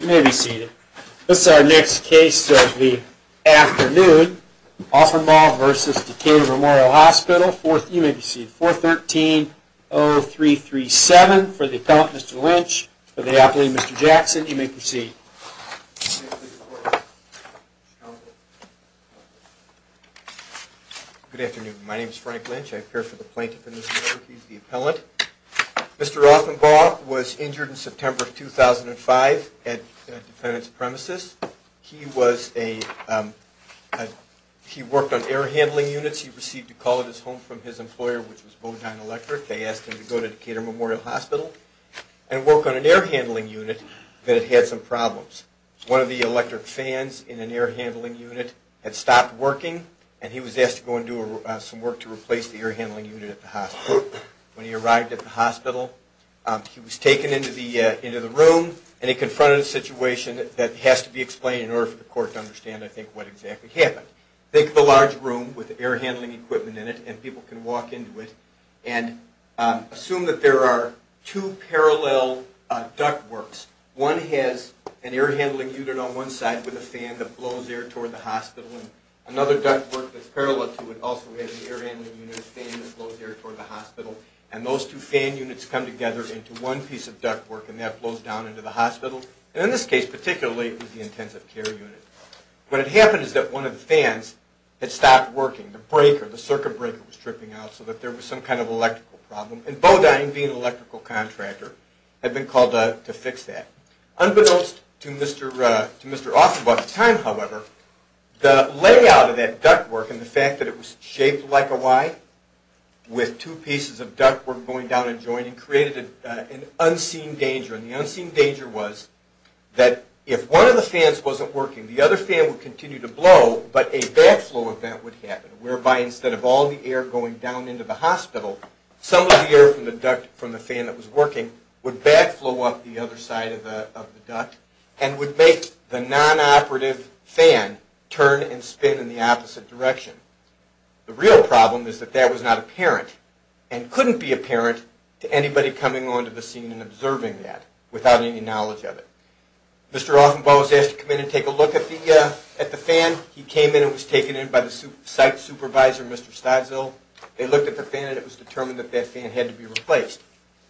You may be seated. This is our next case of the afternoon. Aughenbaugh v. Decatur Memorial Hospital. You may be seated. 413-0337 for the appellant, Mr. Lynch, for the appellant, Mr. Jackson. You may proceed. Good afternoon. My name is Frank Lynch. I appear for the plaintiff in this case, the appellant. Mr. Aughenbaugh was injured in September of 2005 at a defendant's premises. He worked on air handling units. He received a call at his home from his employer, which was Bodine Electric. They asked him to go to Decatur Memorial Hospital and work on an air handling unit that had some problems. One of the electric fans in an air handling unit had stopped working, and he was asked to go and do some work to replace the air handling unit at the hospital. When he arrived at the hospital, he was taken into the room, and he confronted a situation that has to be explained in order for the court to understand, I think, what exactly happened. Think of a large room with air handling equipment in it, and people can walk into it, and assume that there are two parallel duct works. One has an air handling unit on one side with a fan that blows air toward the hospital, and another duct work that's parallel to it also has an air handling unit and a fan that blows air toward the hospital. And those two fan units come together into one piece of duct work, and that blows down into the hospital. And in this case particularly, it was the intensive care unit. What had happened is that one of the fans had stopped working. The breaker, the circuit breaker was tripping out, so that there was some kind of electrical problem. And Bodine, being an electrical contractor, had been called to fix that. Unbeknownst to Mr. Offenbach at the time, however, the layout of that duct work and the fact that it was shaped like a Y with two pieces of duct work going down and joining created an unseen danger. And the unseen danger was that if one of the fans wasn't working, the other fan would continue to blow, but a backflow event would happen, and would make the non-operative fan turn and spin in the opposite direction. The real problem is that that was not apparent and couldn't be apparent to anybody coming onto the scene and observing that without any knowledge of it. Mr. Offenbach was asked to come in and take a look at the fan. He came in and was taken in by the site supervisor, Mr. Stadzel. They looked at the fan, and it was determined that that fan had to be replaced.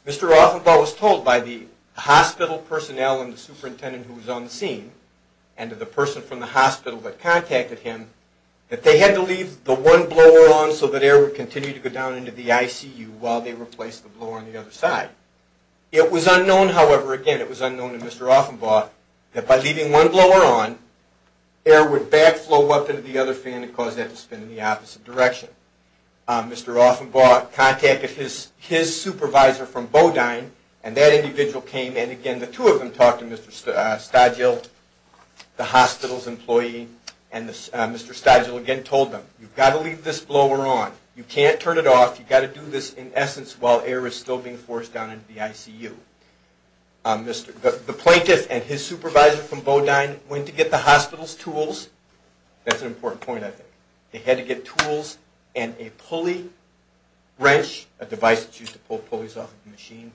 Mr. Offenbach was told by the hospital personnel and the superintendent who was on the scene, and the person from the hospital that contacted him, that they had to leave the one blower on so that air would continue to go down into the ICU while they replaced the blower on the other side. It was unknown, however, again, it was unknown to Mr. Offenbach, that by leaving one blower on, air would backflow up into the other fan and cause that to spin in the opposite direction. Mr. Offenbach contacted his supervisor from Bodine, and that individual came in. Again, the two of them talked to Mr. Stadzel, the hospital's employee, and Mr. Stadzel again told them, you've got to leave this blower on. You can't turn it off. You've got to do this in essence while air is still being forced down into the ICU. The plaintiff and his supervisor from Bodine went to get the hospital's tools. That's an important point, I think. They had to get tools and a pulley wrench, a device that's used to pull pulleys off of the machine,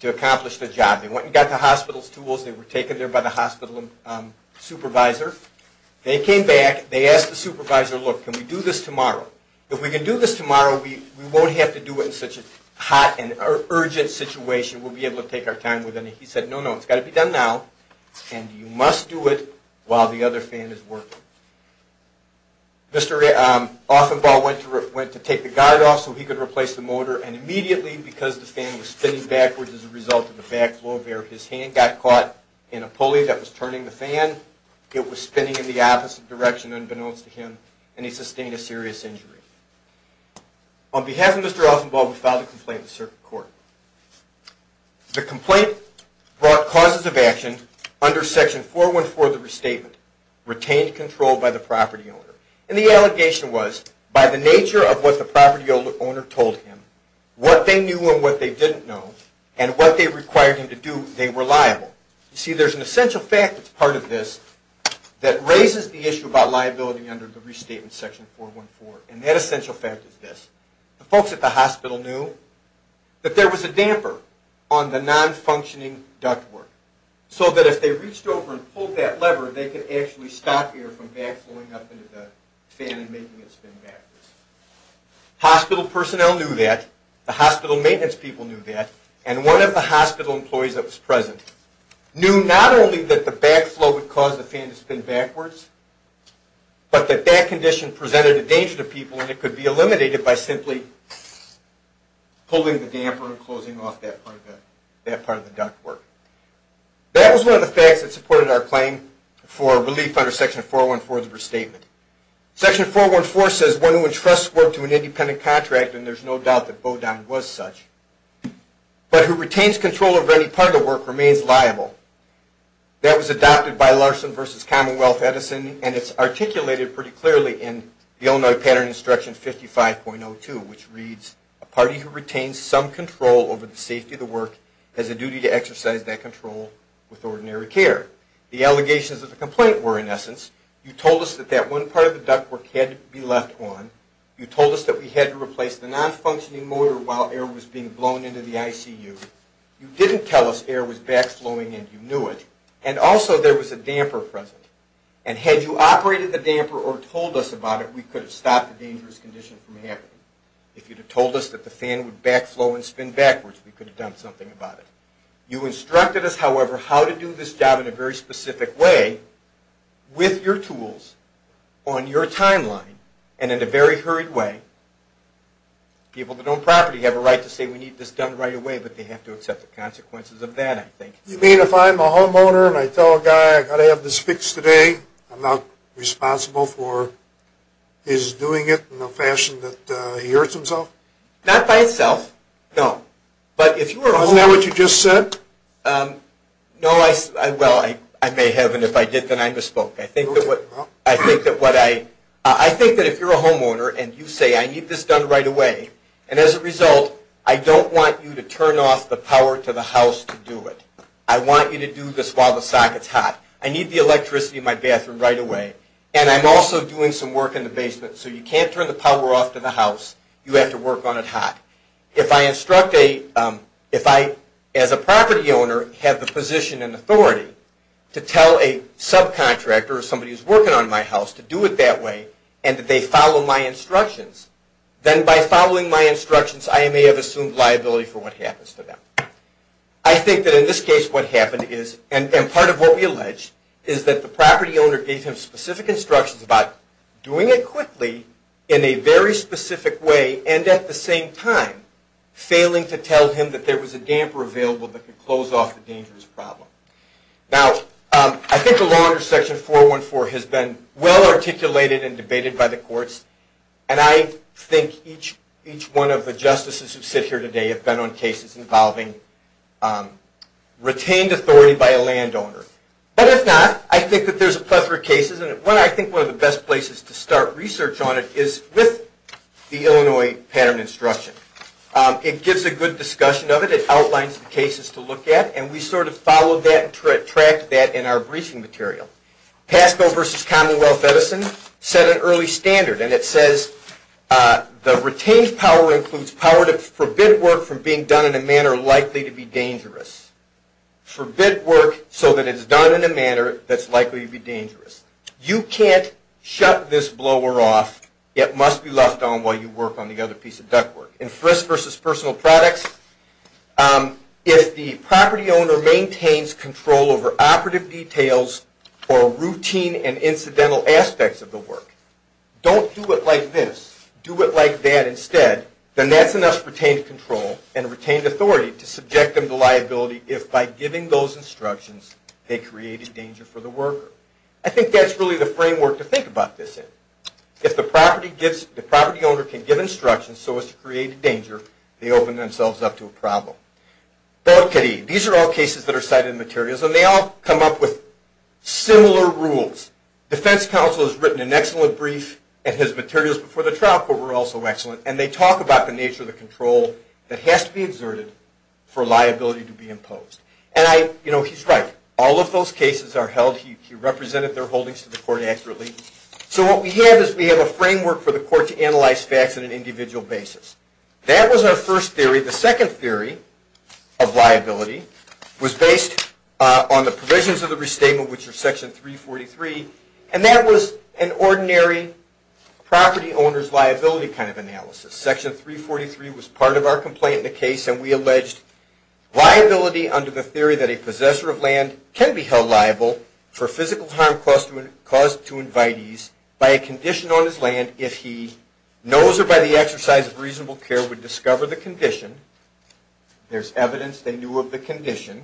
to accomplish the job. They went and got the hospital's tools. They were taken there by the hospital supervisor. They came back. They asked the supervisor, look, can we do this tomorrow? If we can do this tomorrow, we won't have to do it in such a hot and urgent situation. We'll be able to take our time with it. He said, no, no, it's got to be done now, and you must do it while the other fan is working. Mr. Offenbach went to take the guard off so he could replace the motor, and immediately, because the fan was spinning backwards as a result of the backflow of air, his hand got caught in a pulley that was turning the fan. It was spinning in the opposite direction unbeknownst to him, and he sustained a serious injury. On behalf of Mr. Offenbach, we file the complaint in the circuit court. The complaint brought causes of action under section 414 of the restatement, retained control by the property owner. And the allegation was, by the nature of what the property owner told him, what they knew and what they didn't know, and what they required him to do, they were liable. You see, there's an essential fact that's part of this that raises the issue about liability under the restatement section 414, and that essential fact is this. The folks at the hospital knew that there was a damper on the non-functioning ductwork, so that if they reached over and pulled that lever, they could actually stop air from backflowing up into the fan and making it spin backwards. Hospital personnel knew that, the hospital maintenance people knew that, and one of the hospital employees that was present knew not only that the backflow would cause the fan to spin backwards, but that that condition presented a danger to people and it could be eliminated by simply pulling the damper and closing off that part of the ductwork. That was one of the facts that supported our claim for relief under section 414 of the restatement. Section 414 says, one who entrusts work to an independent contractor, and there's no doubt that Bodine was such, but who retains control over any part of the work remains liable. That was adopted by Larson v. Commonwealth Edison, and it's articulated pretty clearly in the Illinois Pattern Instruction 55.02, which reads, a party who retains some control over the safety of the work has a duty to exercise that control with ordinary care. The allegations of the complaint were, in essence, you told us that that one part of the ductwork had to be left on, you told us that we had to replace the non-functioning motor while air was being blown into the ICU, you didn't tell us air was backflowing and you knew it, and also there was a damper present. And had you operated the damper or told us about it, we could have stopped the dangerous condition from happening. If you'd have told us that the fan would backflow and spin backwards, we could have done something about it. You instructed us, however, how to do this job in a very specific way, with your tools, on your timeline, and in a very hurried way. People that own property have a right to say we need this done right away, but they have to accept the consequences of that, I think. You mean if I'm a homeowner and I tell a guy I've got to have this fixed today, I'm not responsible for his doing it in a fashion that he hurts himself? Not by itself, no. Isn't that what you just said? No, well, I may have, and if I did, then I misspoke. I think that if you're a homeowner and you say I need this done right away, and as a result, I don't want you to turn off the power to the house to do it. I want you to do this while the socket's hot. I need the electricity in my bathroom right away, and I'm also doing some work in the basement, so you can't turn the power off to the house, you have to work on it hot. If I, as a property owner, have the position and authority to tell a subcontractor or somebody who's working on my house to do it that way, and that they follow my instructions, then by following my instructions, I may have assumed liability for what happens to them. I think that in this case what happened is, and part of what we allege, is that the property owner gave him specific instructions about doing it quickly in a very specific way, and at the same time, failing to tell him that there was a damper available that could close off the dangerous problem. Now, I think the law under Section 414 has been well articulated and debated by the courts, and I think each one of the justices who sit here today have been on cases involving retained authority by a landowner. But if not, I think that there's a plethora of cases, and I think one of the best places to start research on it is with the Illinois Pattern of Instruction. It gives a good discussion of it, it outlines the cases to look at, and we sort of follow that and track that in our briefing material. Pasco v. Commonwealth Medicine set an early standard, and it says the retained power includes power to forbid work from being done in a manner likely to be dangerous. Forbid work so that it's done in a manner that's likely to be dangerous. You can't shut this blower off, it must be left on while you work on the other piece of ductwork. In Frist v. Personal Products, if the property owner maintains control over operative details or routine and incidental aspects of the work, don't do it like this, do it like that instead, then that's enough retained control and retained authority to subject them to liability if, by giving those instructions, they create a danger for the worker. I think that's really the framework to think about this in. If the property owner can give instructions so as to create a danger, they open themselves up to a problem. These are all cases that are cited in materials, and they all come up with similar rules. Defense counsel has written an excellent brief, and his materials before the trial court were also excellent, and they talk about the nature of the control that has to be exerted for liability to be imposed. And he's right, all of those cases are held, he represented their holdings to the court accurately. So what we have is we have a framework for the court to analyze facts on an individual basis. That was our first theory. The second theory of liability was based on the provisions of the restatement, which are Section 343, and that was an ordinary property owner's liability kind of analysis. Section 343 was part of our complaint in the case, and we alleged liability under the theory that a possessor of land can be held liable for physical harm caused to invitees by a condition on his land if he knows or by the exercise of reasonable care would discover the condition. There's evidence they knew of the condition.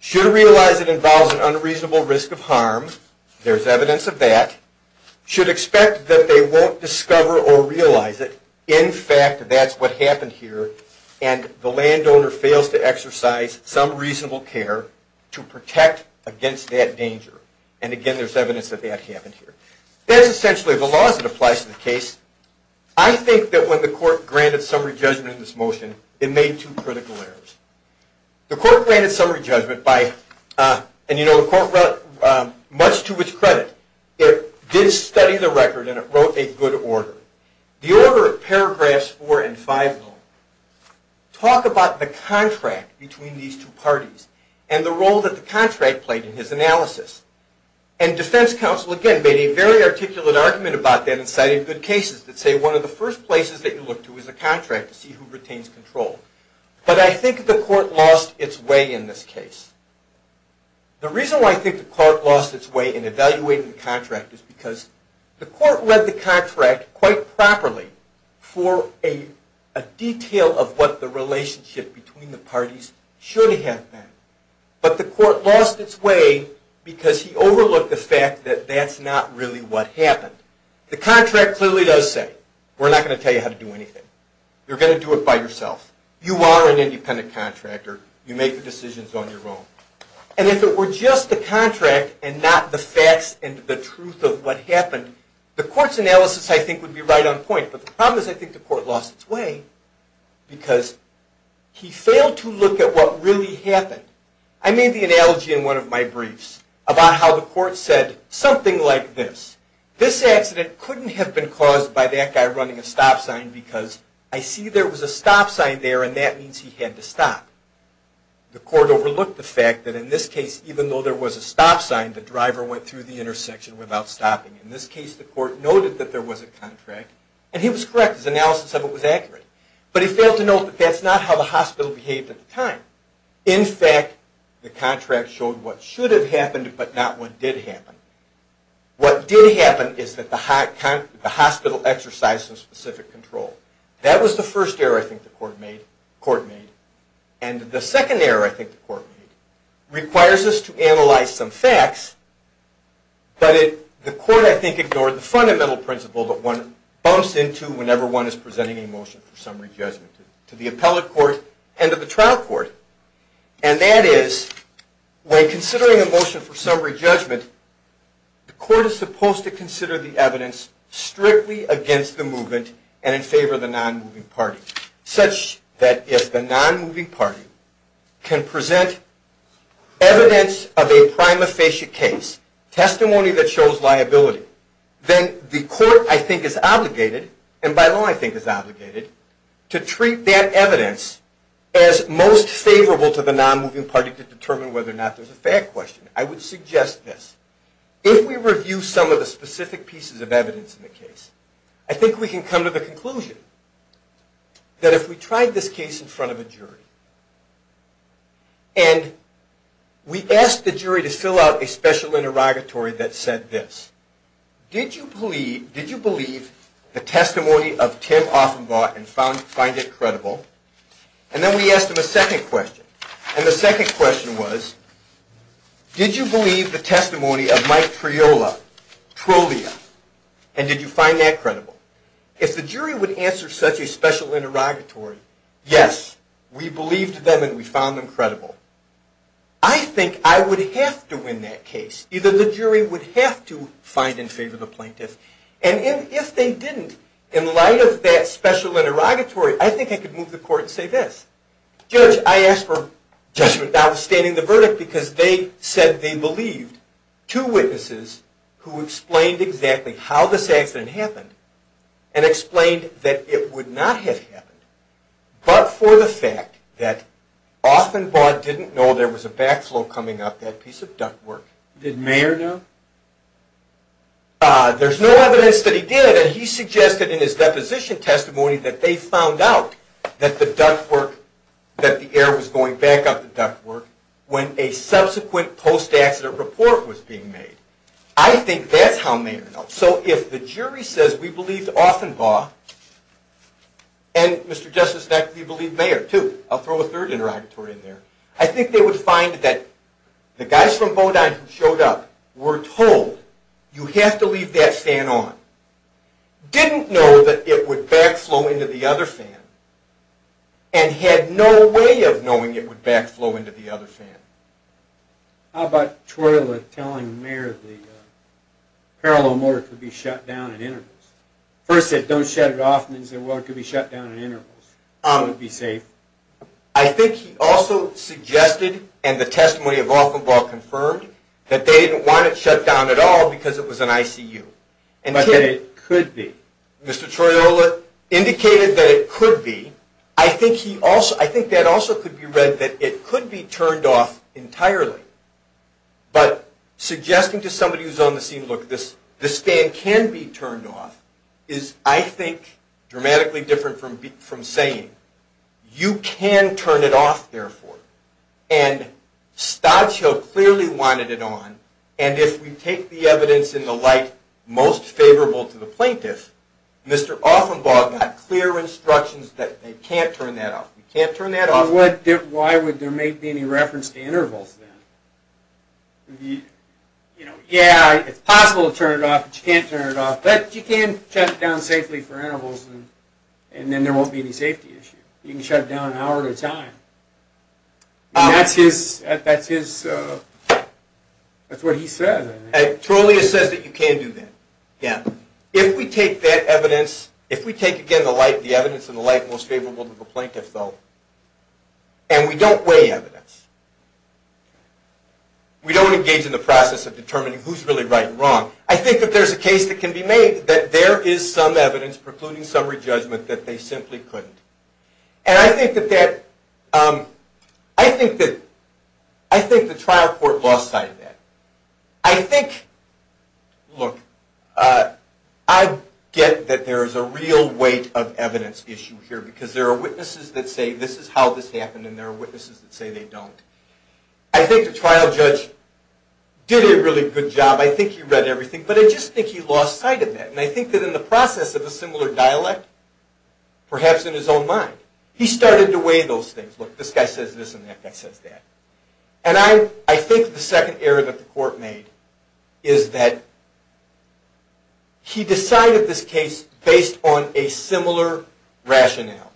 Should realize it involves an unreasonable risk of harm. There's evidence of that. Should expect that they won't discover or realize it. In fact, that's what happened here, and the landowner fails to exercise some reasonable care to protect against that danger. And again, there's evidence that that happened here. That's essentially the laws that applies to the case. I think that when the court granted summary judgment in this motion, it made two critical errors. The court granted summary judgment by, and you know the court, much to its credit, it did study the record and it wrote a good order. The order of paragraphs four and five, though, talk about the contract between these two parties and the role that the contract played in his analysis. And defense counsel, again, made a very articulate argument about that and cited good cases that say one of the first places that you look to is a contract to see who retains control. But I think the court lost its way in this case. The reason why I think the court lost its way in evaluating the contract is because the court read the contract quite properly for a detail of what the relationship between the parties should have been. But the court lost its way because he overlooked the fact that that's not really what happened. The contract clearly does say, we're not going to tell you how to do anything. You're going to do it by yourself. You are an independent contractor. You make the decisions on your own. And if it were just the contract and not the facts and the truth of what happened, the court's analysis, I think, would be right on point. But the problem is I think the court lost its way because he failed to look at what really happened. I made the analogy in one of my briefs about how the court said something like this. This accident couldn't have been caused by that guy running a stop sign because I see there was a stop sign there and that means he had to stop. The court overlooked the fact that in this case, even though there was a stop sign, the driver went through the intersection without stopping. In this case, the court noted that there was a contract and he was correct. His analysis of it was accurate. But he failed to note that that's not how the hospital behaved at the time. In fact, the contract showed what should have happened but not what did happen. What did happen is that the hospital exercised some specific control. That was the first error I think the court made. And the second error I think the court made requires us to analyze some facts. But the court, I think, ignored the fundamental principle that one bumps into whenever one is presenting a motion for summary judgment to the appellate court and to the trial court. And that is, when considering a motion for summary judgment, the court is supposed to consider the evidence strictly against the movement and in favor of the non-moving party. Such that if the non-moving party can present evidence of a prima facie case, testimony that shows liability, then the court, I think, is obligated, and by law I think is obligated, to treat that evidence as most favorable to the non-moving party to determine whether or not there's a fair question. I would suggest this. If we review some of the specific pieces of evidence in the case, I think we can come to the conclusion that if we tried this case in front of a jury, and we asked the jury to fill out a special interrogatory that said this. Did you believe the testimony of Tim Offenbaugh and find it credible? And then we asked them a second question. And the second question was, did you believe the testimony of Mike Triola, Trollia, and did you find that credible? If the jury would answer such a special interrogatory, yes, we believed them and we found them credible. I think I would have to win that case. Either the jury would have to find in favor of the plaintiff. And if they didn't, in light of that special interrogatory, I think I could move the court and say this. Judge, I asked for judgment notwithstanding the verdict because they said they believed two witnesses who explained exactly how this accident happened and explained that it would not have happened but for the fact that Offenbaugh didn't know there was a backflow coming up, that piece of ductwork. Did Mayer know? There's no evidence that he did. And he suggested in his deposition testimony that they found out that the air was going back up the ductwork when a subsequent post-accident report was being made. I think that's how Mayer knows. So if the jury says we believed Offenbaugh and, Mr. Justice, we believe Mayer, too. I'll throw a third interrogatory in there. I think they would find that the guys from Bodine who showed up were told, you have to leave that fan on, didn't know that it would backflow into the other fan, and had no way of knowing it would backflow into the other fan. How about Twayla telling Mayer the parallel motor could be shut down in intervals? First said, don't shut it off, and then said, well, it could be shut down in intervals. It would be safe. I think he also suggested, and the testimony of Offenbaugh confirmed, that they didn't want it shut down at all because it was an ICU. But that it could be. Mr. Twayla indicated that it could be. I think that also could be read that it could be turned off entirely. But suggesting to somebody who's on the scene, look, this fan can be turned off is, I think, dramatically different from saying, you can turn it off, therefore. And Stodshill clearly wanted it on, and if we take the evidence in the light most favorable to the plaintiff, Mr. Offenbaugh got clear instructions that they can't turn that off. Why would there be any reference to intervals then? Yeah, it's possible to turn it off, but you can't turn it off. But you can shut it down safely for intervals, and then there won't be any safety issues. You can shut it down an hour at a time. That's what he said. Twayla says that you can do that. If we take that evidence, if we take, again, the light, the evidence in the light most favorable to the plaintiff, though, and we don't weigh evidence, we don't engage in the process of determining who's really right and wrong, I think that there's a case that can be made that there is some evidence precluding summary judgment that they simply couldn't. And I think that that, I think that, I think the trial court lost sight of that. I think, look, I get that there is a real weight of evidence issue here, because there are witnesses that say this is how this happened, and there are witnesses that say they don't. I think the trial judge did a really good job. I think he read everything, but I just think he lost sight of that. And I think that in the process of a similar dialect, perhaps in his own mind, he started to weigh those things. Look, this guy says this, and that guy says that. And I think the second error that the court made is that he decided this case based on a similar rationale.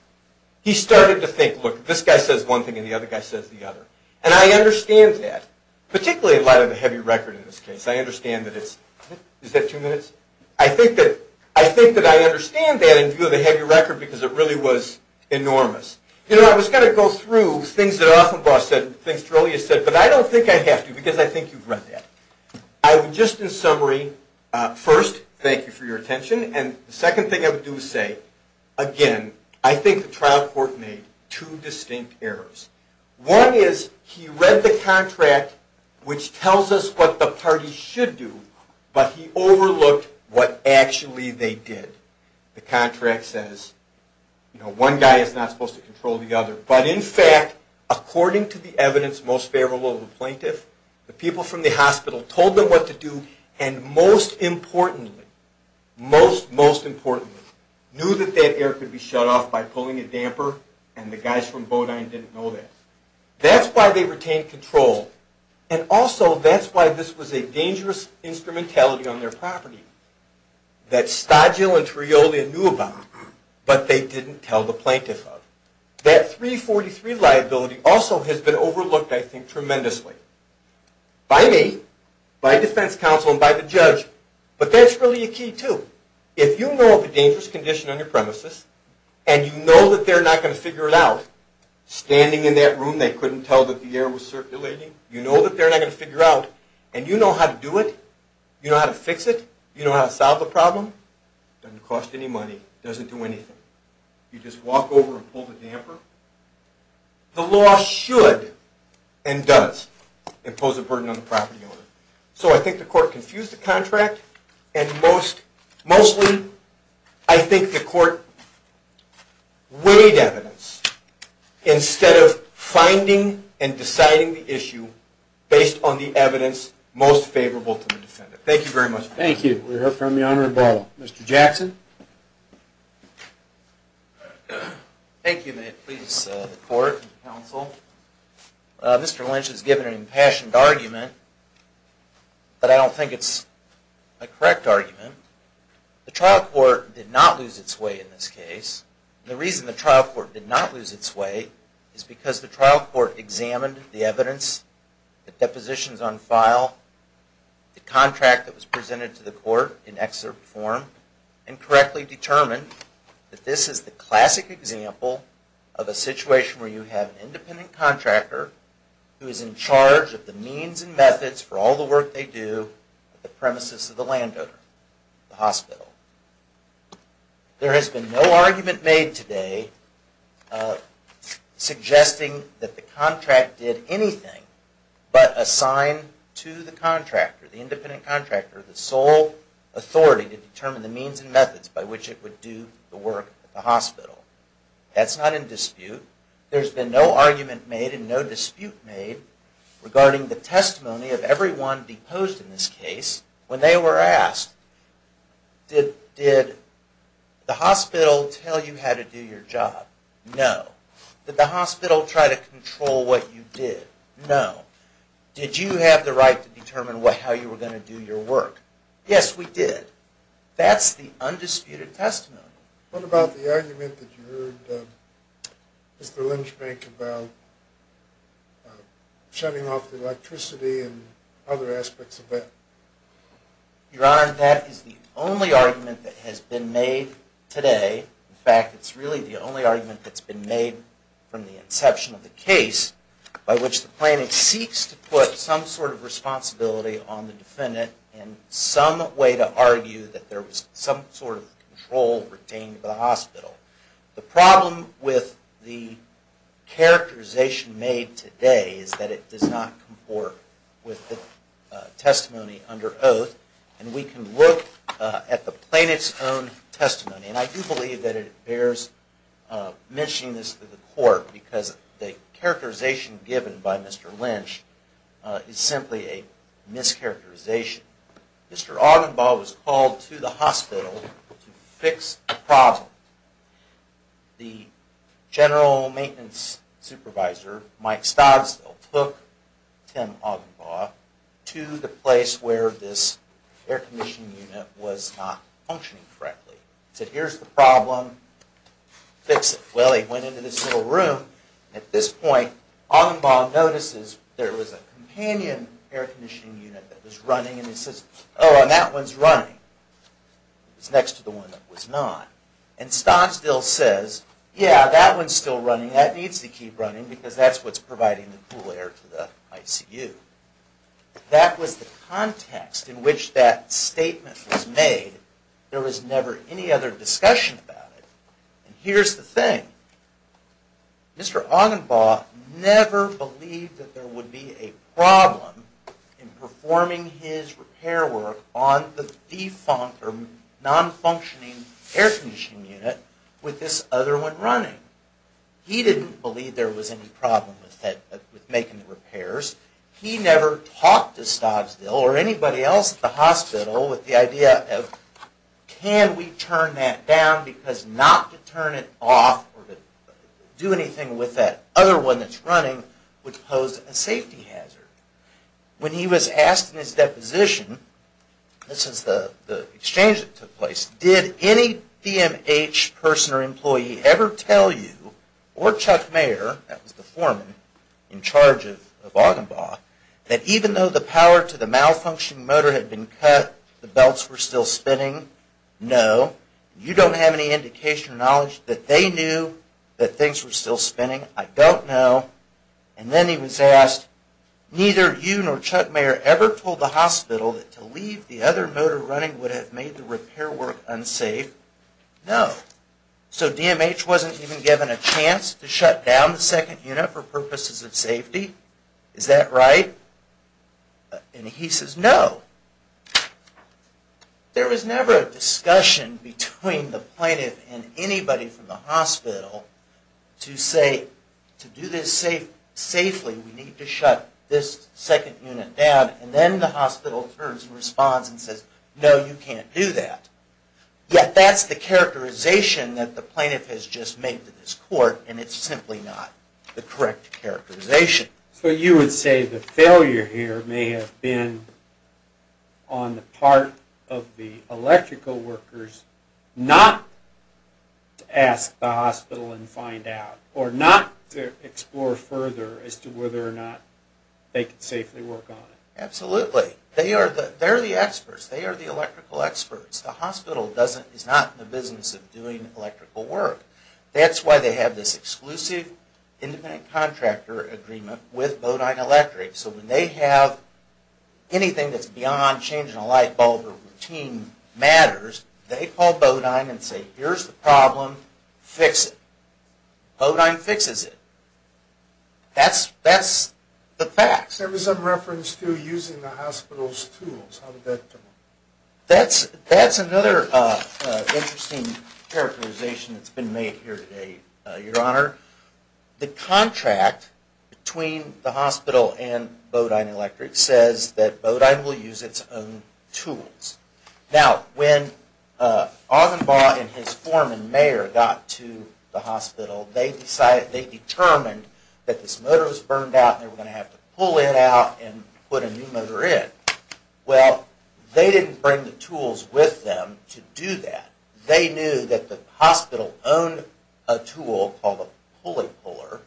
He started to think, look, this guy says one thing, and the other guy says the other. And I understand that, particularly in light of the heavy record in this case. I understand that it's, is that two minutes? I think that, I think that I understand that in view of the heavy record, because it really was enormous. You know, I was going to go through things that Offenbaugh said, things that Torelli has said, but I don't think I have to, because I think you've read that. I would just, in summary, first, thank you for your attention. And the second thing I would do is say, again, I think the trial court made two distinct errors. One is he read the contract, which tells us what the parties should do, but he overlooked what actually they did. The contract says, you know, one guy is not supposed to control the other. But in fact, according to the evidence most favorable of the plaintiff, the people from the hospital told them what to do, and most importantly, most, most importantly, knew that that air could be shut off by pulling a damper, and the guys from Bodine didn't know that. That's why they retained control, and also that's why this was a dangerous instrumentality on their property. That Stodgill and Torelli knew about, but they didn't tell the plaintiff of. That 343 liability also has been overlooked, I think, tremendously. By me, by defense counsel, and by the judge, but that's really a key, too. If you know of a dangerous condition on your premises, and you know that they're not going to figure it out, standing in that room they couldn't tell that the air was circulating, you know that they're not going to figure it out, and you know how to do it, you know how to fix it, you know how to solve the problem, it doesn't cost any money, it doesn't do anything. You just walk over and pull the damper. The law should, and does, impose a burden on the property owner. So I think the court confused the contract, and mostly I think the court weighed evidence instead of finding and deciding the issue based on the evidence most favorable to the defendant. Thank you very much. Thank you. We'll hear from the Honorable Barlow. Mr. Jackson. Thank you, and may it please the court and counsel. Mr. Lynch has given an impassioned argument, but I don't think it's a correct argument. The trial court did not lose its way in this case. The reason the trial court did not lose its way is because the trial court examined the evidence, the depositions on file, the contract that was presented to the court in excerpt form, and correctly determined that this is the classic example of a situation where you have an independent contractor who is in charge of the means and methods for all the work they do at the premises of the landowner, the hospital. There has been no argument made today suggesting that the contract did anything but assign to the contractor, the independent contractor, the sole authority to determine the means and methods by which it would do the work at the hospital. That's not in dispute. There's been no argument made and no dispute made regarding the testimony of everyone deposed in this case when they were asked, did the hospital tell you how to do your job? No. Did the hospital try to control what you did? No. Did you have the right to determine how you were going to do your work? Yes, we did. That's the undisputed testimony. What about the argument that you heard Mr. Lynch make about shutting off the electricity and other aspects of that? Your Honor, that is the only argument that has been made today. In fact, it's really the only argument that's been made from the inception of the case by which the plaintiff seeks to put some sort of responsibility on the defendant and some way to argue that there was some sort of control retained by the hospital. The problem with the characterization made today is that it does not comport with the testimony under oath, and we can look at the plaintiff's own testimony. And I do believe that it bears mentioning this to the court because the characterization given by Mr. Lynch is simply a mischaracterization. Mr. Augenbaugh was called to the hospital to fix the problem. The general maintenance supervisor, Mike Stoddsville, took Tim Augenbaugh to the place where this air conditioning unit was not functioning correctly. He said, here's the problem, fix it. Well, he went into this little room. At this point, Augenbaugh notices there was a companion air conditioning unit that was running, and he says, oh, and that one's running. It was next to the one that was not. And Stoddsville says, yeah, that one's still running. That needs to keep running because that's what's providing the cool air to the ICU. That was the context in which that statement was made. There was never any other discussion about it. And here's the thing. Mr. Augenbaugh never believed that there would be a problem in performing his repair work on the non-functioning air conditioning unit with this other one running. He didn't believe there was any problem with making the repairs. He never talked to Stoddsville or anybody else at the hospital with the idea of, can we turn that down? Because not to turn it off or to do anything with that other one that's running would pose a safety hazard. When he was asked in his deposition, this is the exchange that took place, did any DMH person or employee ever tell you or Chuck Mayer, that was the foreman in charge of Augenbaugh, that even though the power to the malfunctioning motor had been cut, the belts were still spinning? No. You don't have any indication or knowledge that they knew that things were still spinning? I don't know. And then he was asked, neither you nor Chuck Mayer ever told the hospital that to leave the other motor running would have made the repair work unsafe? No. So DMH wasn't even given a chance to shut down the second unit for purposes of safety? Is that right? And he says, no. There was never a discussion between the plaintiff and anybody from the hospital to say, to do this safely we need to shut this second unit down, and then the hospital turns and responds and says, no, you can't do that. Yet that's the characterization that the plaintiff has just made to this court, and it's simply not the correct characterization. So you would say the failure here may have been on the part of the electrical workers not to ask the hospital and find out, or not to explore further as to whether or not they could safely work on it. Absolutely. They are the experts. They are the electrical experts. The hospital is not in the business of doing electrical work. That's why they have this exclusive independent contractor agreement with Bodine Electric. So when they have anything that's beyond changing a light bulb or routine matters, they call Bodine and say, here's the problem, fix it. Bodine fixes it. That's the facts. There was some reference to using the hospital's tools. How did that come up? That's another interesting characterization that's been made here today, Your Honor. The contract between the hospital and Bodine Electric says that Bodine will use its own tools. Now, when Augenbaugh and his foreman, Mayer, got to the hospital, they determined that this motor was burned out and they were going to have to pull it out and put a new motor in. Well, they didn't bring the tools with them to do that. They knew that the hospital owned a tool called a pulley puller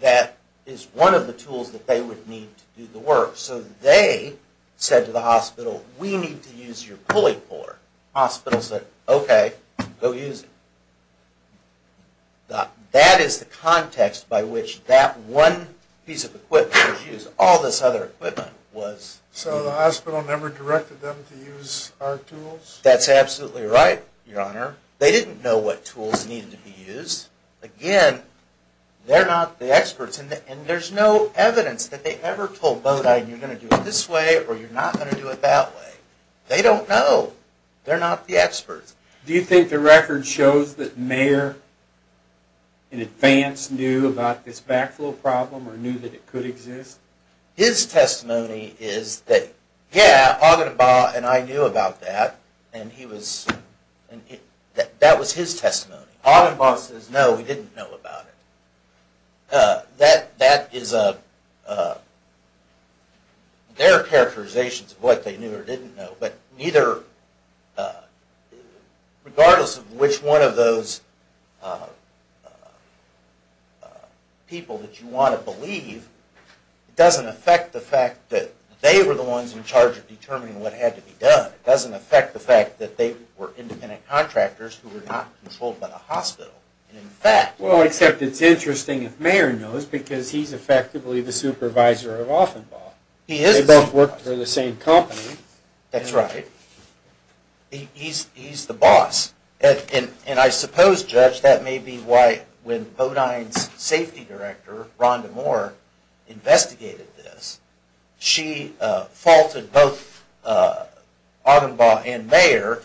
that is one of the tools that they would need to do the work. So they said to the hospital, we need to use your pulley puller. The hospital said, okay, go use it. That is the context by which that one piece of equipment was used. All this other equipment was used. So the hospital never directed them to use our tools? That's absolutely right, Your Honor. They didn't know what tools needed to be used. Again, they're not the experts, and there's no evidence that they ever told Bodine you're going to do it this way or you're not going to do it that way. They don't know. They're not the experts. Do you think the record shows that Mayer, in advance, just knew about this backflow problem or knew that it could exist? His testimony is that, yeah, Ogdenbaugh and I knew about that, and that was his testimony. Ogdenbaugh says, no, we didn't know about it. That is their characterizations of what they knew or didn't know, but neither, regardless of which one of those people that you want to believe, it doesn't affect the fact that they were the ones in charge of determining what had to be done. It doesn't affect the fact that they were independent contractors who were not controlled by the hospital. Well, except it's interesting if Mayer knows because he's effectively the supervisor of Ogdenbaugh. They both work for the same company. That's right. He's the boss. And I suppose, Judge, that may be why when Bodine's safety director, Rhonda Moore, investigated this, she faulted both Ogdenbaugh and Mayer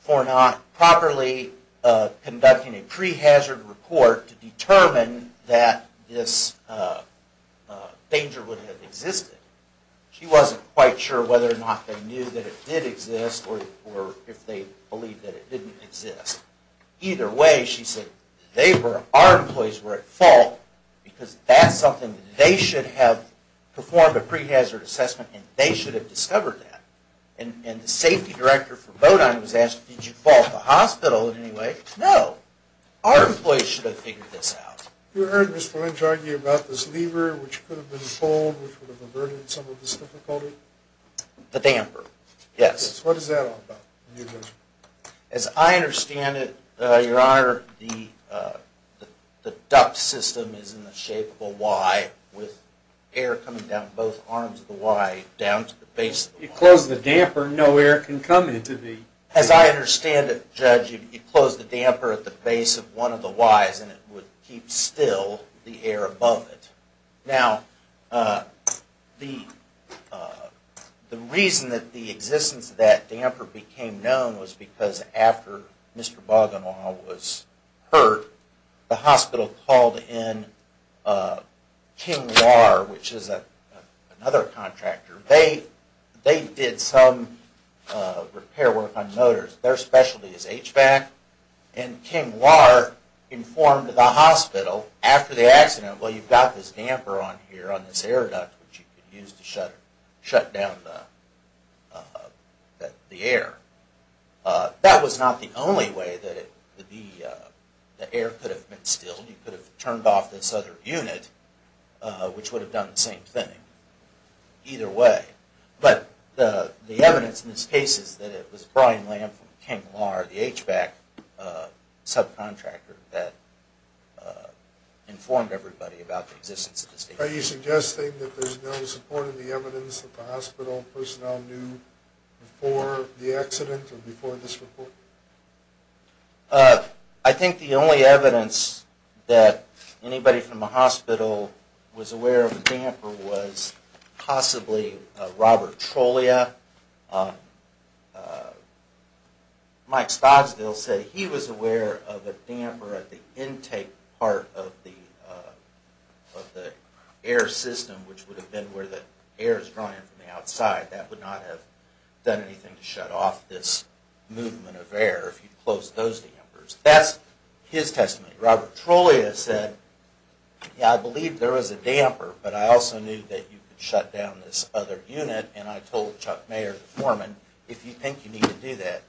for not properly conducting a prehazard report to determine that this danger would have existed. She wasn't quite sure whether or not they knew that it did exist or if they believed that it didn't exist. Either way, she said, our employees were at fault because that's something they should have performed a prehazard assessment and they should have discovered that. And the safety director for Bodine was asked, did you fault the hospital in any way? No. Our employees should have figured this out. You heard Mr. Lynch argue about this lever which could have been pulled which would have averted some of this difficulty? The damper, yes. What is that all about? As I understand it, Your Honor, the duct system is in the shape of a Y with air coming down both arms of the Y down to the base of the Y. You close the damper, no air can come into the... As I understand it, Judge, you close the damper at the base of one of the Ys and it would keep still the air above it. Now, the reason that the existence of that damper became known was because after Mr. Bogganall was hurt, the hospital called in King Warr, which is another contractor. They did some repair work on motors. Their specialty is HVAC. And King Warr informed the hospital after the accident, well, you've got this damper on here, on this air duct which you could use to shut down the air. That was not the only way that the air could have been stilled. You could have turned off this other unit which would have done the same thing. Either way. But the evidence in this case is that it was Brian Lamb from King Warr, the HVAC subcontractor that informed everybody about the existence of this damper. Are you suggesting that there's no support in the evidence that the hospital personnel knew before the accident or before this report? I think the only evidence that anybody from the hospital was aware of the damper was possibly Robert Trollia. Mike Stoddsville said he was aware of a damper at the intake part of the air system, which would have been where the air is drawn in from the outside. That would not have done anything to shut off this movement of air if you closed those dampers. That's his testimony. Robert Trollia said, yeah, I believe there was a damper, but I also knew that you could shut down this other unit, and I told Chuck Mayer, the foreman, if you think you need to do that,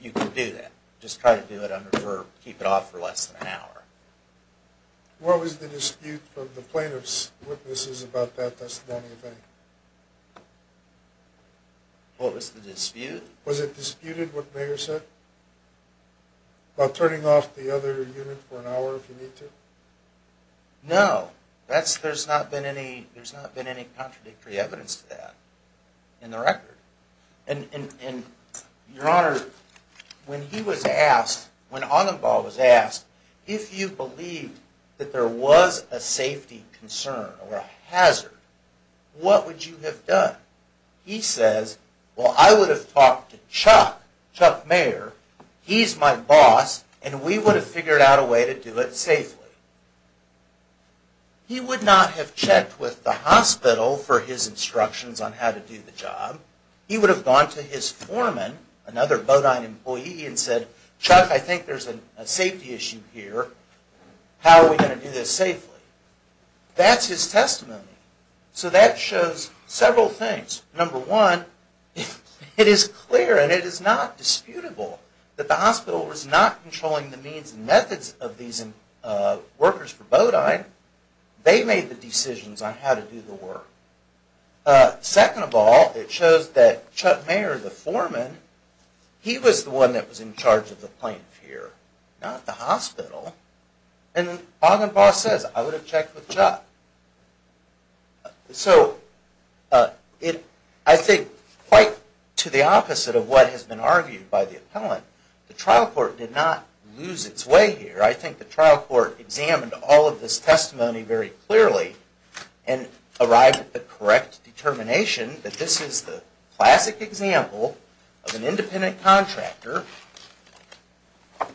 you can do that. Just try to keep it off for less than an hour. What was the dispute from the plaintiff's witnesses about that testimony? What was the dispute? Was it disputed what Mayer said? About turning off the other unit for an hour if you need to? No. There's not been any contradictory evidence to that in the record. And, Your Honor, when he was asked, when Anambal was asked, if you believed that there was a safety concern or a hazard, what would you have done? He says, well, I would have talked to Chuck, Chuck Mayer. He's my boss, and we would have figured out a way to do it safely. He would not have checked with the hospital for his instructions on how to do the job. He would have gone to his foreman, another Bodine employee, and said, Chuck, I think there's a safety issue here. How are we going to do this safely? That's his testimony. So that shows several things. Number one, it is clear, and it is not disputable, that the hospital was not controlling the means and methods of these workers for Bodine. They made the decisions on how to do the work. Second of all, it shows that Chuck Mayer, the foreman, he was the one that was in charge of the plaintiff here, not the hospital. And Ogdenbaugh says, I would have checked with Chuck. So I think quite to the opposite of what has been argued by the appellant, the trial court did not lose its way here. I think the trial court examined all of this testimony very clearly and arrived at the correct determination that this is the classic example of an independent contractor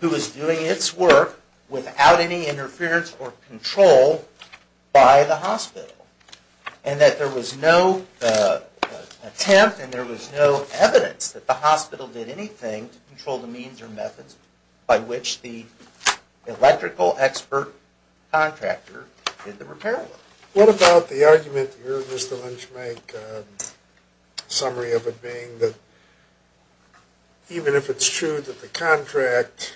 who is doing its work without any interference or control by the hospital, and that there was no attempt and there was no evidence that the hospital did anything to control the means or methods by which the electrical expert contractor did the repair work. What about the argument here, Mr. Lynch, Mike, a summary of it being that even if it's true that the contract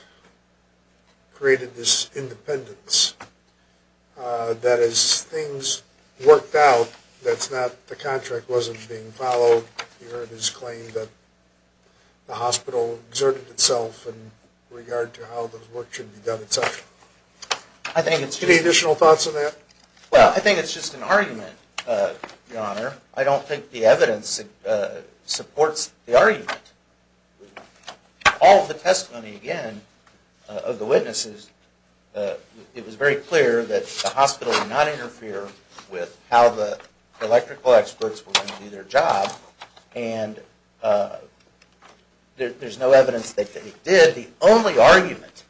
created this independence, that as things worked out, that the contract wasn't being followed. You heard his claim that the hospital exerted itself in regard to how the work should be done, etc. Any additional thoughts on that? Well, I think it's just an argument, Your Honor. I don't think the evidence supports the argument. All of the testimony, again, of the witnesses, it was very clear that the hospital did not interfere with how the electrical experts were going to do their job, and there's no evidence that they did. But the only argument,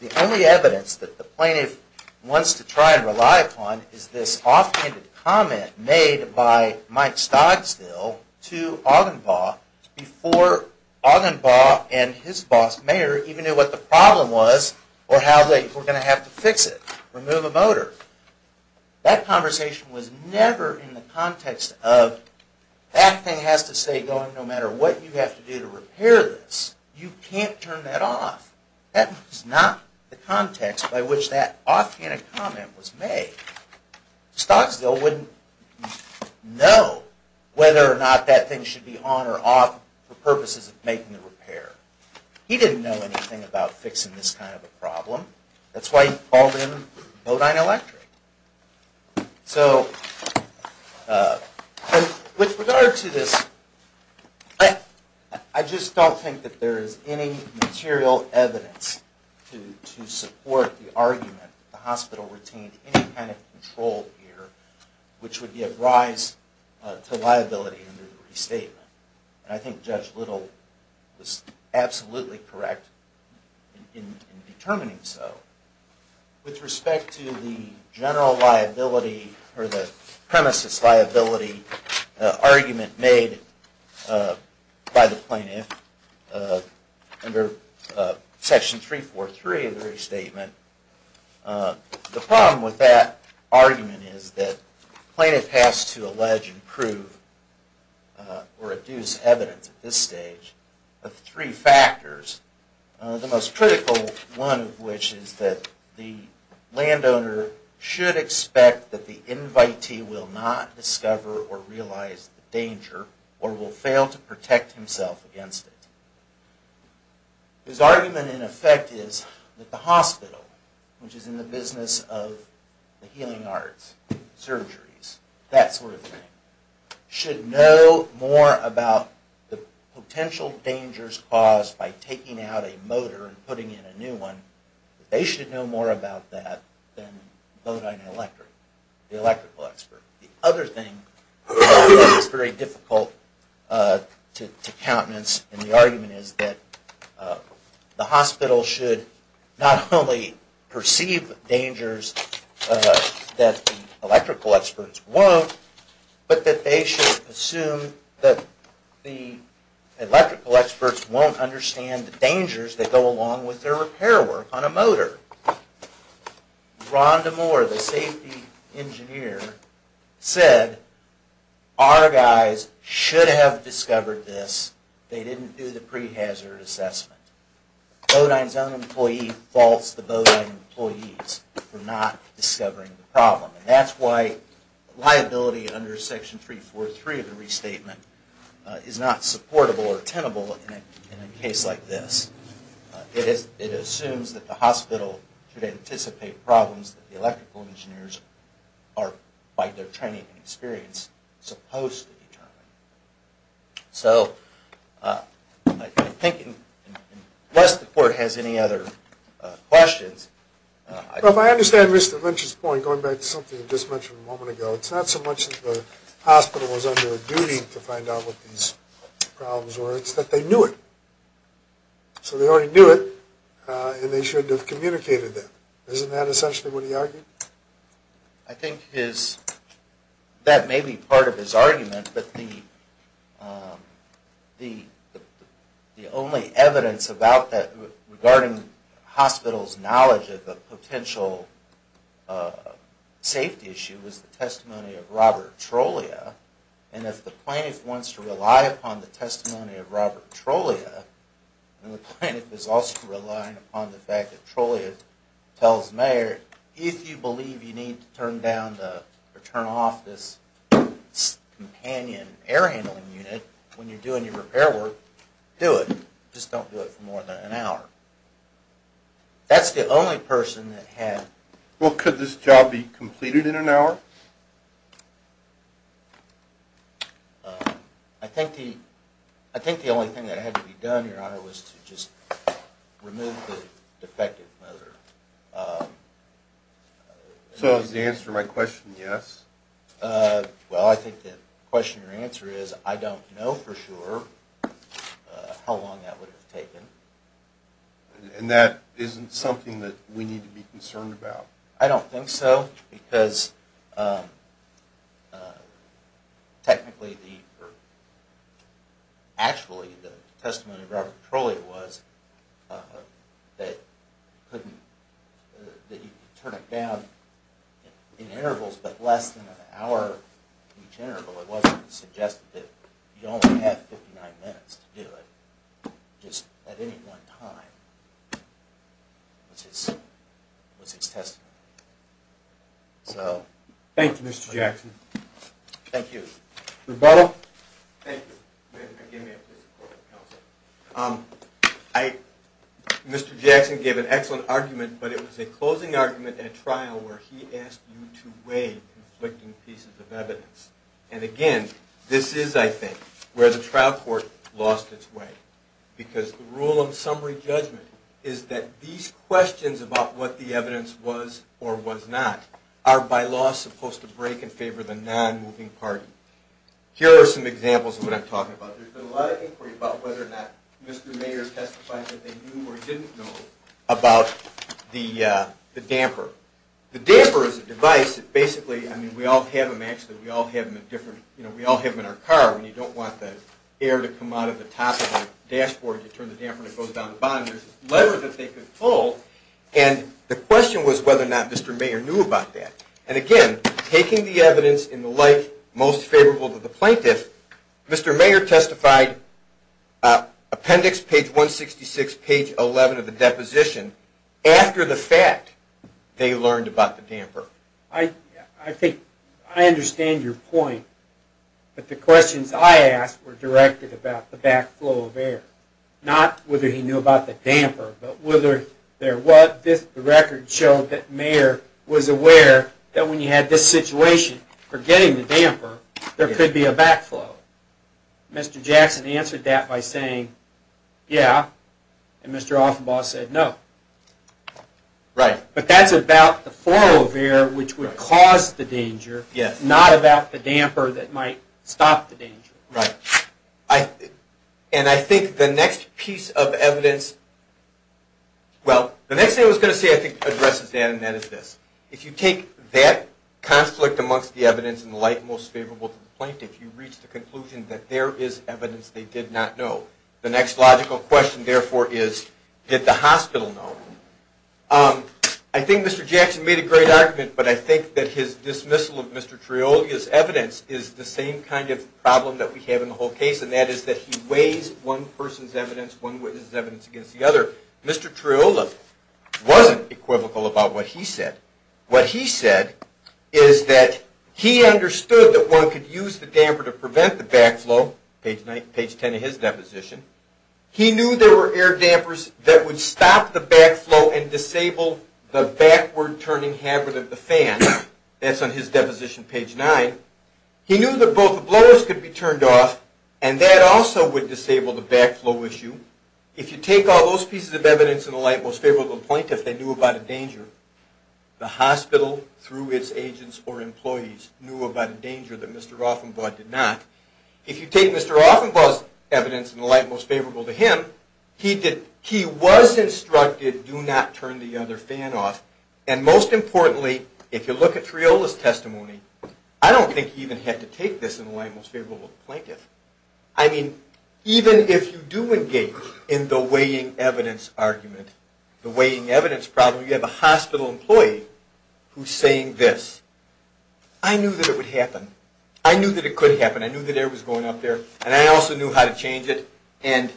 the only evidence that the plaintiff wants to try and rely upon is this offhanded comment made by Mike Stogsdill to Augenbaugh before Augenbaugh and his boss, Mayer, even knew what the problem was or how they were going to have to fix it, remove a motor. That conversation was never in the context of, that thing has to stay going no matter what you have to do to repair this. You can't turn that off. That was not the context by which that offhanded comment was made. Stogsdill wouldn't know whether or not that thing should be on or off for purposes of making the repair. He didn't know anything about fixing this kind of a problem. That's why he called in Bodine Electric. So with regard to this, I just don't think that there is any material evidence to support the argument that the hospital retained any kind of control here, which would be a rise to liability under the restatement. And I think Judge Little was absolutely correct in determining so. With respect to the general liability or the premises liability argument made by the plaintiff under Section 343 of the restatement, the problem with that argument is that the plaintiff has to allege and prove or adduce evidence at this stage of three factors, the most critical one of which is that the landowner should expect that the invitee will not discover or realize the danger or will fail to protect himself against it. His argument in effect is that the hospital, which is in the business of the healing arts, surgeries, that sort of thing, should know more about the potential dangers caused by taking out a motor and putting in a new one. They should know more about that than Bodine Electric, the electrical expert. The other thing that I think is very difficult to countenance in the argument is that the hospital should not only perceive dangers that the electrical experts won't, but that they should assume that the electrical experts won't understand the dangers that go along with their repair work on a motor. Rhonda Moore, the safety engineer, said our guys should have discovered this. They didn't do the prehazard assessment. Bodine's own employee faults the Bodine employees for not discovering the problem. That's why liability under section 343 of the restatement is not supportable or tenable in a case like this. It assumes that the hospital should anticipate problems that the electrical engineers are, by their training and experience, supposed to determine. So I think, unless the court has any other questions... Well, if I understand Mr. Lynch's point, going back to something you just mentioned a moment ago, it's not so much that the hospital was under a duty to find out what these problems were. It's that they knew it. So they already knew it, and they shouldn't have communicated it. Isn't that essentially what he argued? I think that may be part of his argument, but the only evidence regarding hospitals' knowledge of the potential safety issue was the testimony of Robert Trollia. And if the plaintiff wants to rely upon the testimony of Robert Trollia, and the plaintiff is also relying upon the fact that Trollia tells Mayer, if you believe you need to turn off this companion air handling unit when you're doing your repair work, do it. Just don't do it for more than an hour. That's the only person that had... Well, could this job be completed in an hour? I think the only thing that had to be done, Your Honor, was to just remove the defective motor. So does that answer my question, yes? Well, I think the question or answer is I don't know for sure how long that would have taken. And that isn't something that we need to be concerned about. I don't think so, because technically, or actually, the testimony of Robert Trollia was that you could turn it down in intervals, but less than an hour each interval. It wasn't suggested that you only have 59 minutes to do it. Just at any one time was his testimony. So... Thank you, Mr. Jackson. Thank you. Rebuttal? Thank you. Mr. Jackson gave an excellent argument, but it was a closing argument at trial where he asked you to weigh conflicting pieces of evidence. And again, this is, I think, where the trial court lost its way. Because the rule of summary judgment is that these questions about what the evidence was or was not are by law supposed to break in favor of the non-moving party. Here are some examples of what I'm talking about. There's been a lot of inquiry about whether or not Mr. Mayer testified that they knew or didn't know about the damper. The damper is a device that basically, I mean, we all have them, you know, we all have them in our car. When you don't want the air to come out of the top of the dashboard, you turn the damper and it goes down the bottom. There's a lever that they could pull, and the question was whether or not Mr. Mayer knew about that. And again, taking the evidence in the light most favorable to the plaintiff, Mr. Mayer testified, appendix page 166, page 11 of the deposition, after the fact they learned about the damper. I think I understand your point, but the questions I asked were directed about the backflow of air, not whether he knew about the damper, but whether there was, the record showed that Mayer was aware that when you had this situation, forgetting the damper, there could be a backflow. Mr. Jackson answered that by saying, yeah, and Mr. Offenbaugh said no. Right. But that's about the flow of air, which would cause the danger, not about the damper that might stop the danger. Right. And I think the next piece of evidence, well, the next thing I was going to say I think addresses that, and that is this. If you take that conflict amongst the evidence in the light most favorable to the plaintiff, you reach the conclusion that there is evidence they did not know. The next logical question, therefore, is did the hospital know? I think Mr. Jackson made a great argument, but I think that his dismissal of Mr. Trioli's evidence is the same kind of problem that we have in the whole case, and that is that he weighs one person's evidence, one witness's evidence against the other. Mr. Trioli wasn't equivocal about what he said. What he said is that he understood that one could use the damper to prevent the backflow, page 10 of his deposition. He knew there were air dampers that would stop the backflow and disable the backward-turning habit of the fan. That's on his deposition, page 9. He knew that both the blowers could be turned off, and that also would disable the backflow issue. If you take all those pieces of evidence in the light most favorable to the plaintiff, they knew about a danger. The hospital, through its agents or employees, knew about a danger that Mr. Rothenbaum did not. If you take Mr. Rothenbaum's evidence in the light most favorable to him, he was instructed, do not turn the other fan off. And most importantly, if you look at Trioli's testimony, I don't think he even had to take this in the light most favorable to the plaintiff. I mean, even if you do engage in the weighing evidence argument, the weighing evidence problem, you have a hospital employee who's saying this. I knew that it would happen. I knew that it could happen. I knew that air was going up there, and I also knew how to change it. And,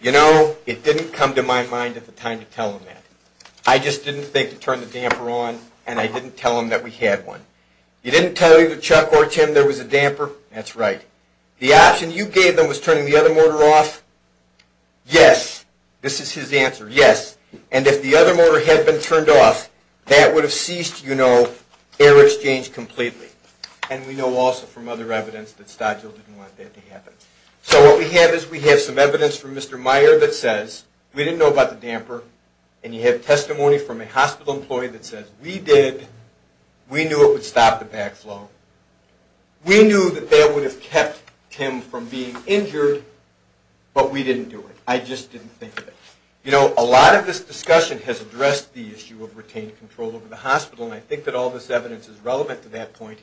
you know, it didn't come to my mind at the time to tell him that. I just didn't think to turn the damper on, and I didn't tell him that we had one. You didn't tell either Chuck or Tim there was a damper? That's right. The option you gave them was turning the other motor off? Yes. This is his answer. Yes. And if the other motor had been turned off, that would have ceased, you know, air exchange completely. And we know also from other evidence that Stodgill didn't want that to happen. So what we have is we have some evidence from Mr. Meyer that says we didn't know about the damper, and you have testimony from a hospital employee that says we did. We knew it would stop the backflow. We knew that that would have kept Tim from being injured, but we didn't do it. I just didn't think of it. You know, a lot of this discussion has addressed the issue of retained control over the hospital, and I think that all this evidence is relevant to that point.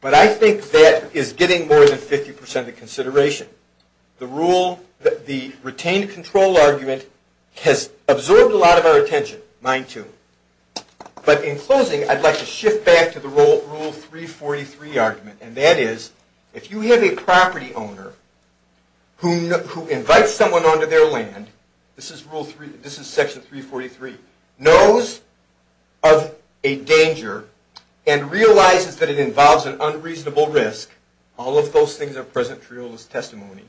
But I think that is getting more than 50% of the consideration. The retained control argument has absorbed a lot of our attention, mine too. But in closing, I'd like to shift back to the Rule 343 argument, and that is if you have a property owner who invites someone onto their land, this is Section 343, knows of a danger and realizes that it involves an unreasonable risk, all of those things are present in Triola's testimony,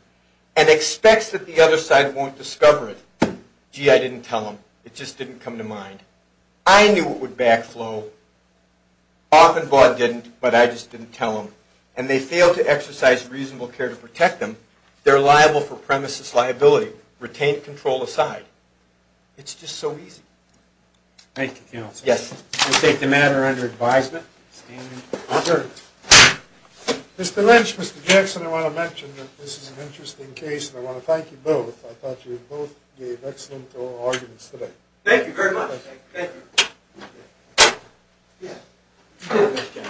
and expects that the other side won't discover it, gee, I didn't tell him. It just didn't come to mind. I knew it would backflow. Off and Vaughn didn't, but I just didn't tell him. And they fail to exercise reasonable care to protect them, they're liable for premises liability. Retained control aside, it's just so easy. Thank you, counsel. Yes. We'll take the matter under advisement. Mr. Lynch, Mr. Jackson, I want to mention that this is an interesting case, and I want to thank you both. I thought you both gave excellent arguments today. Thank you very much. Thank you.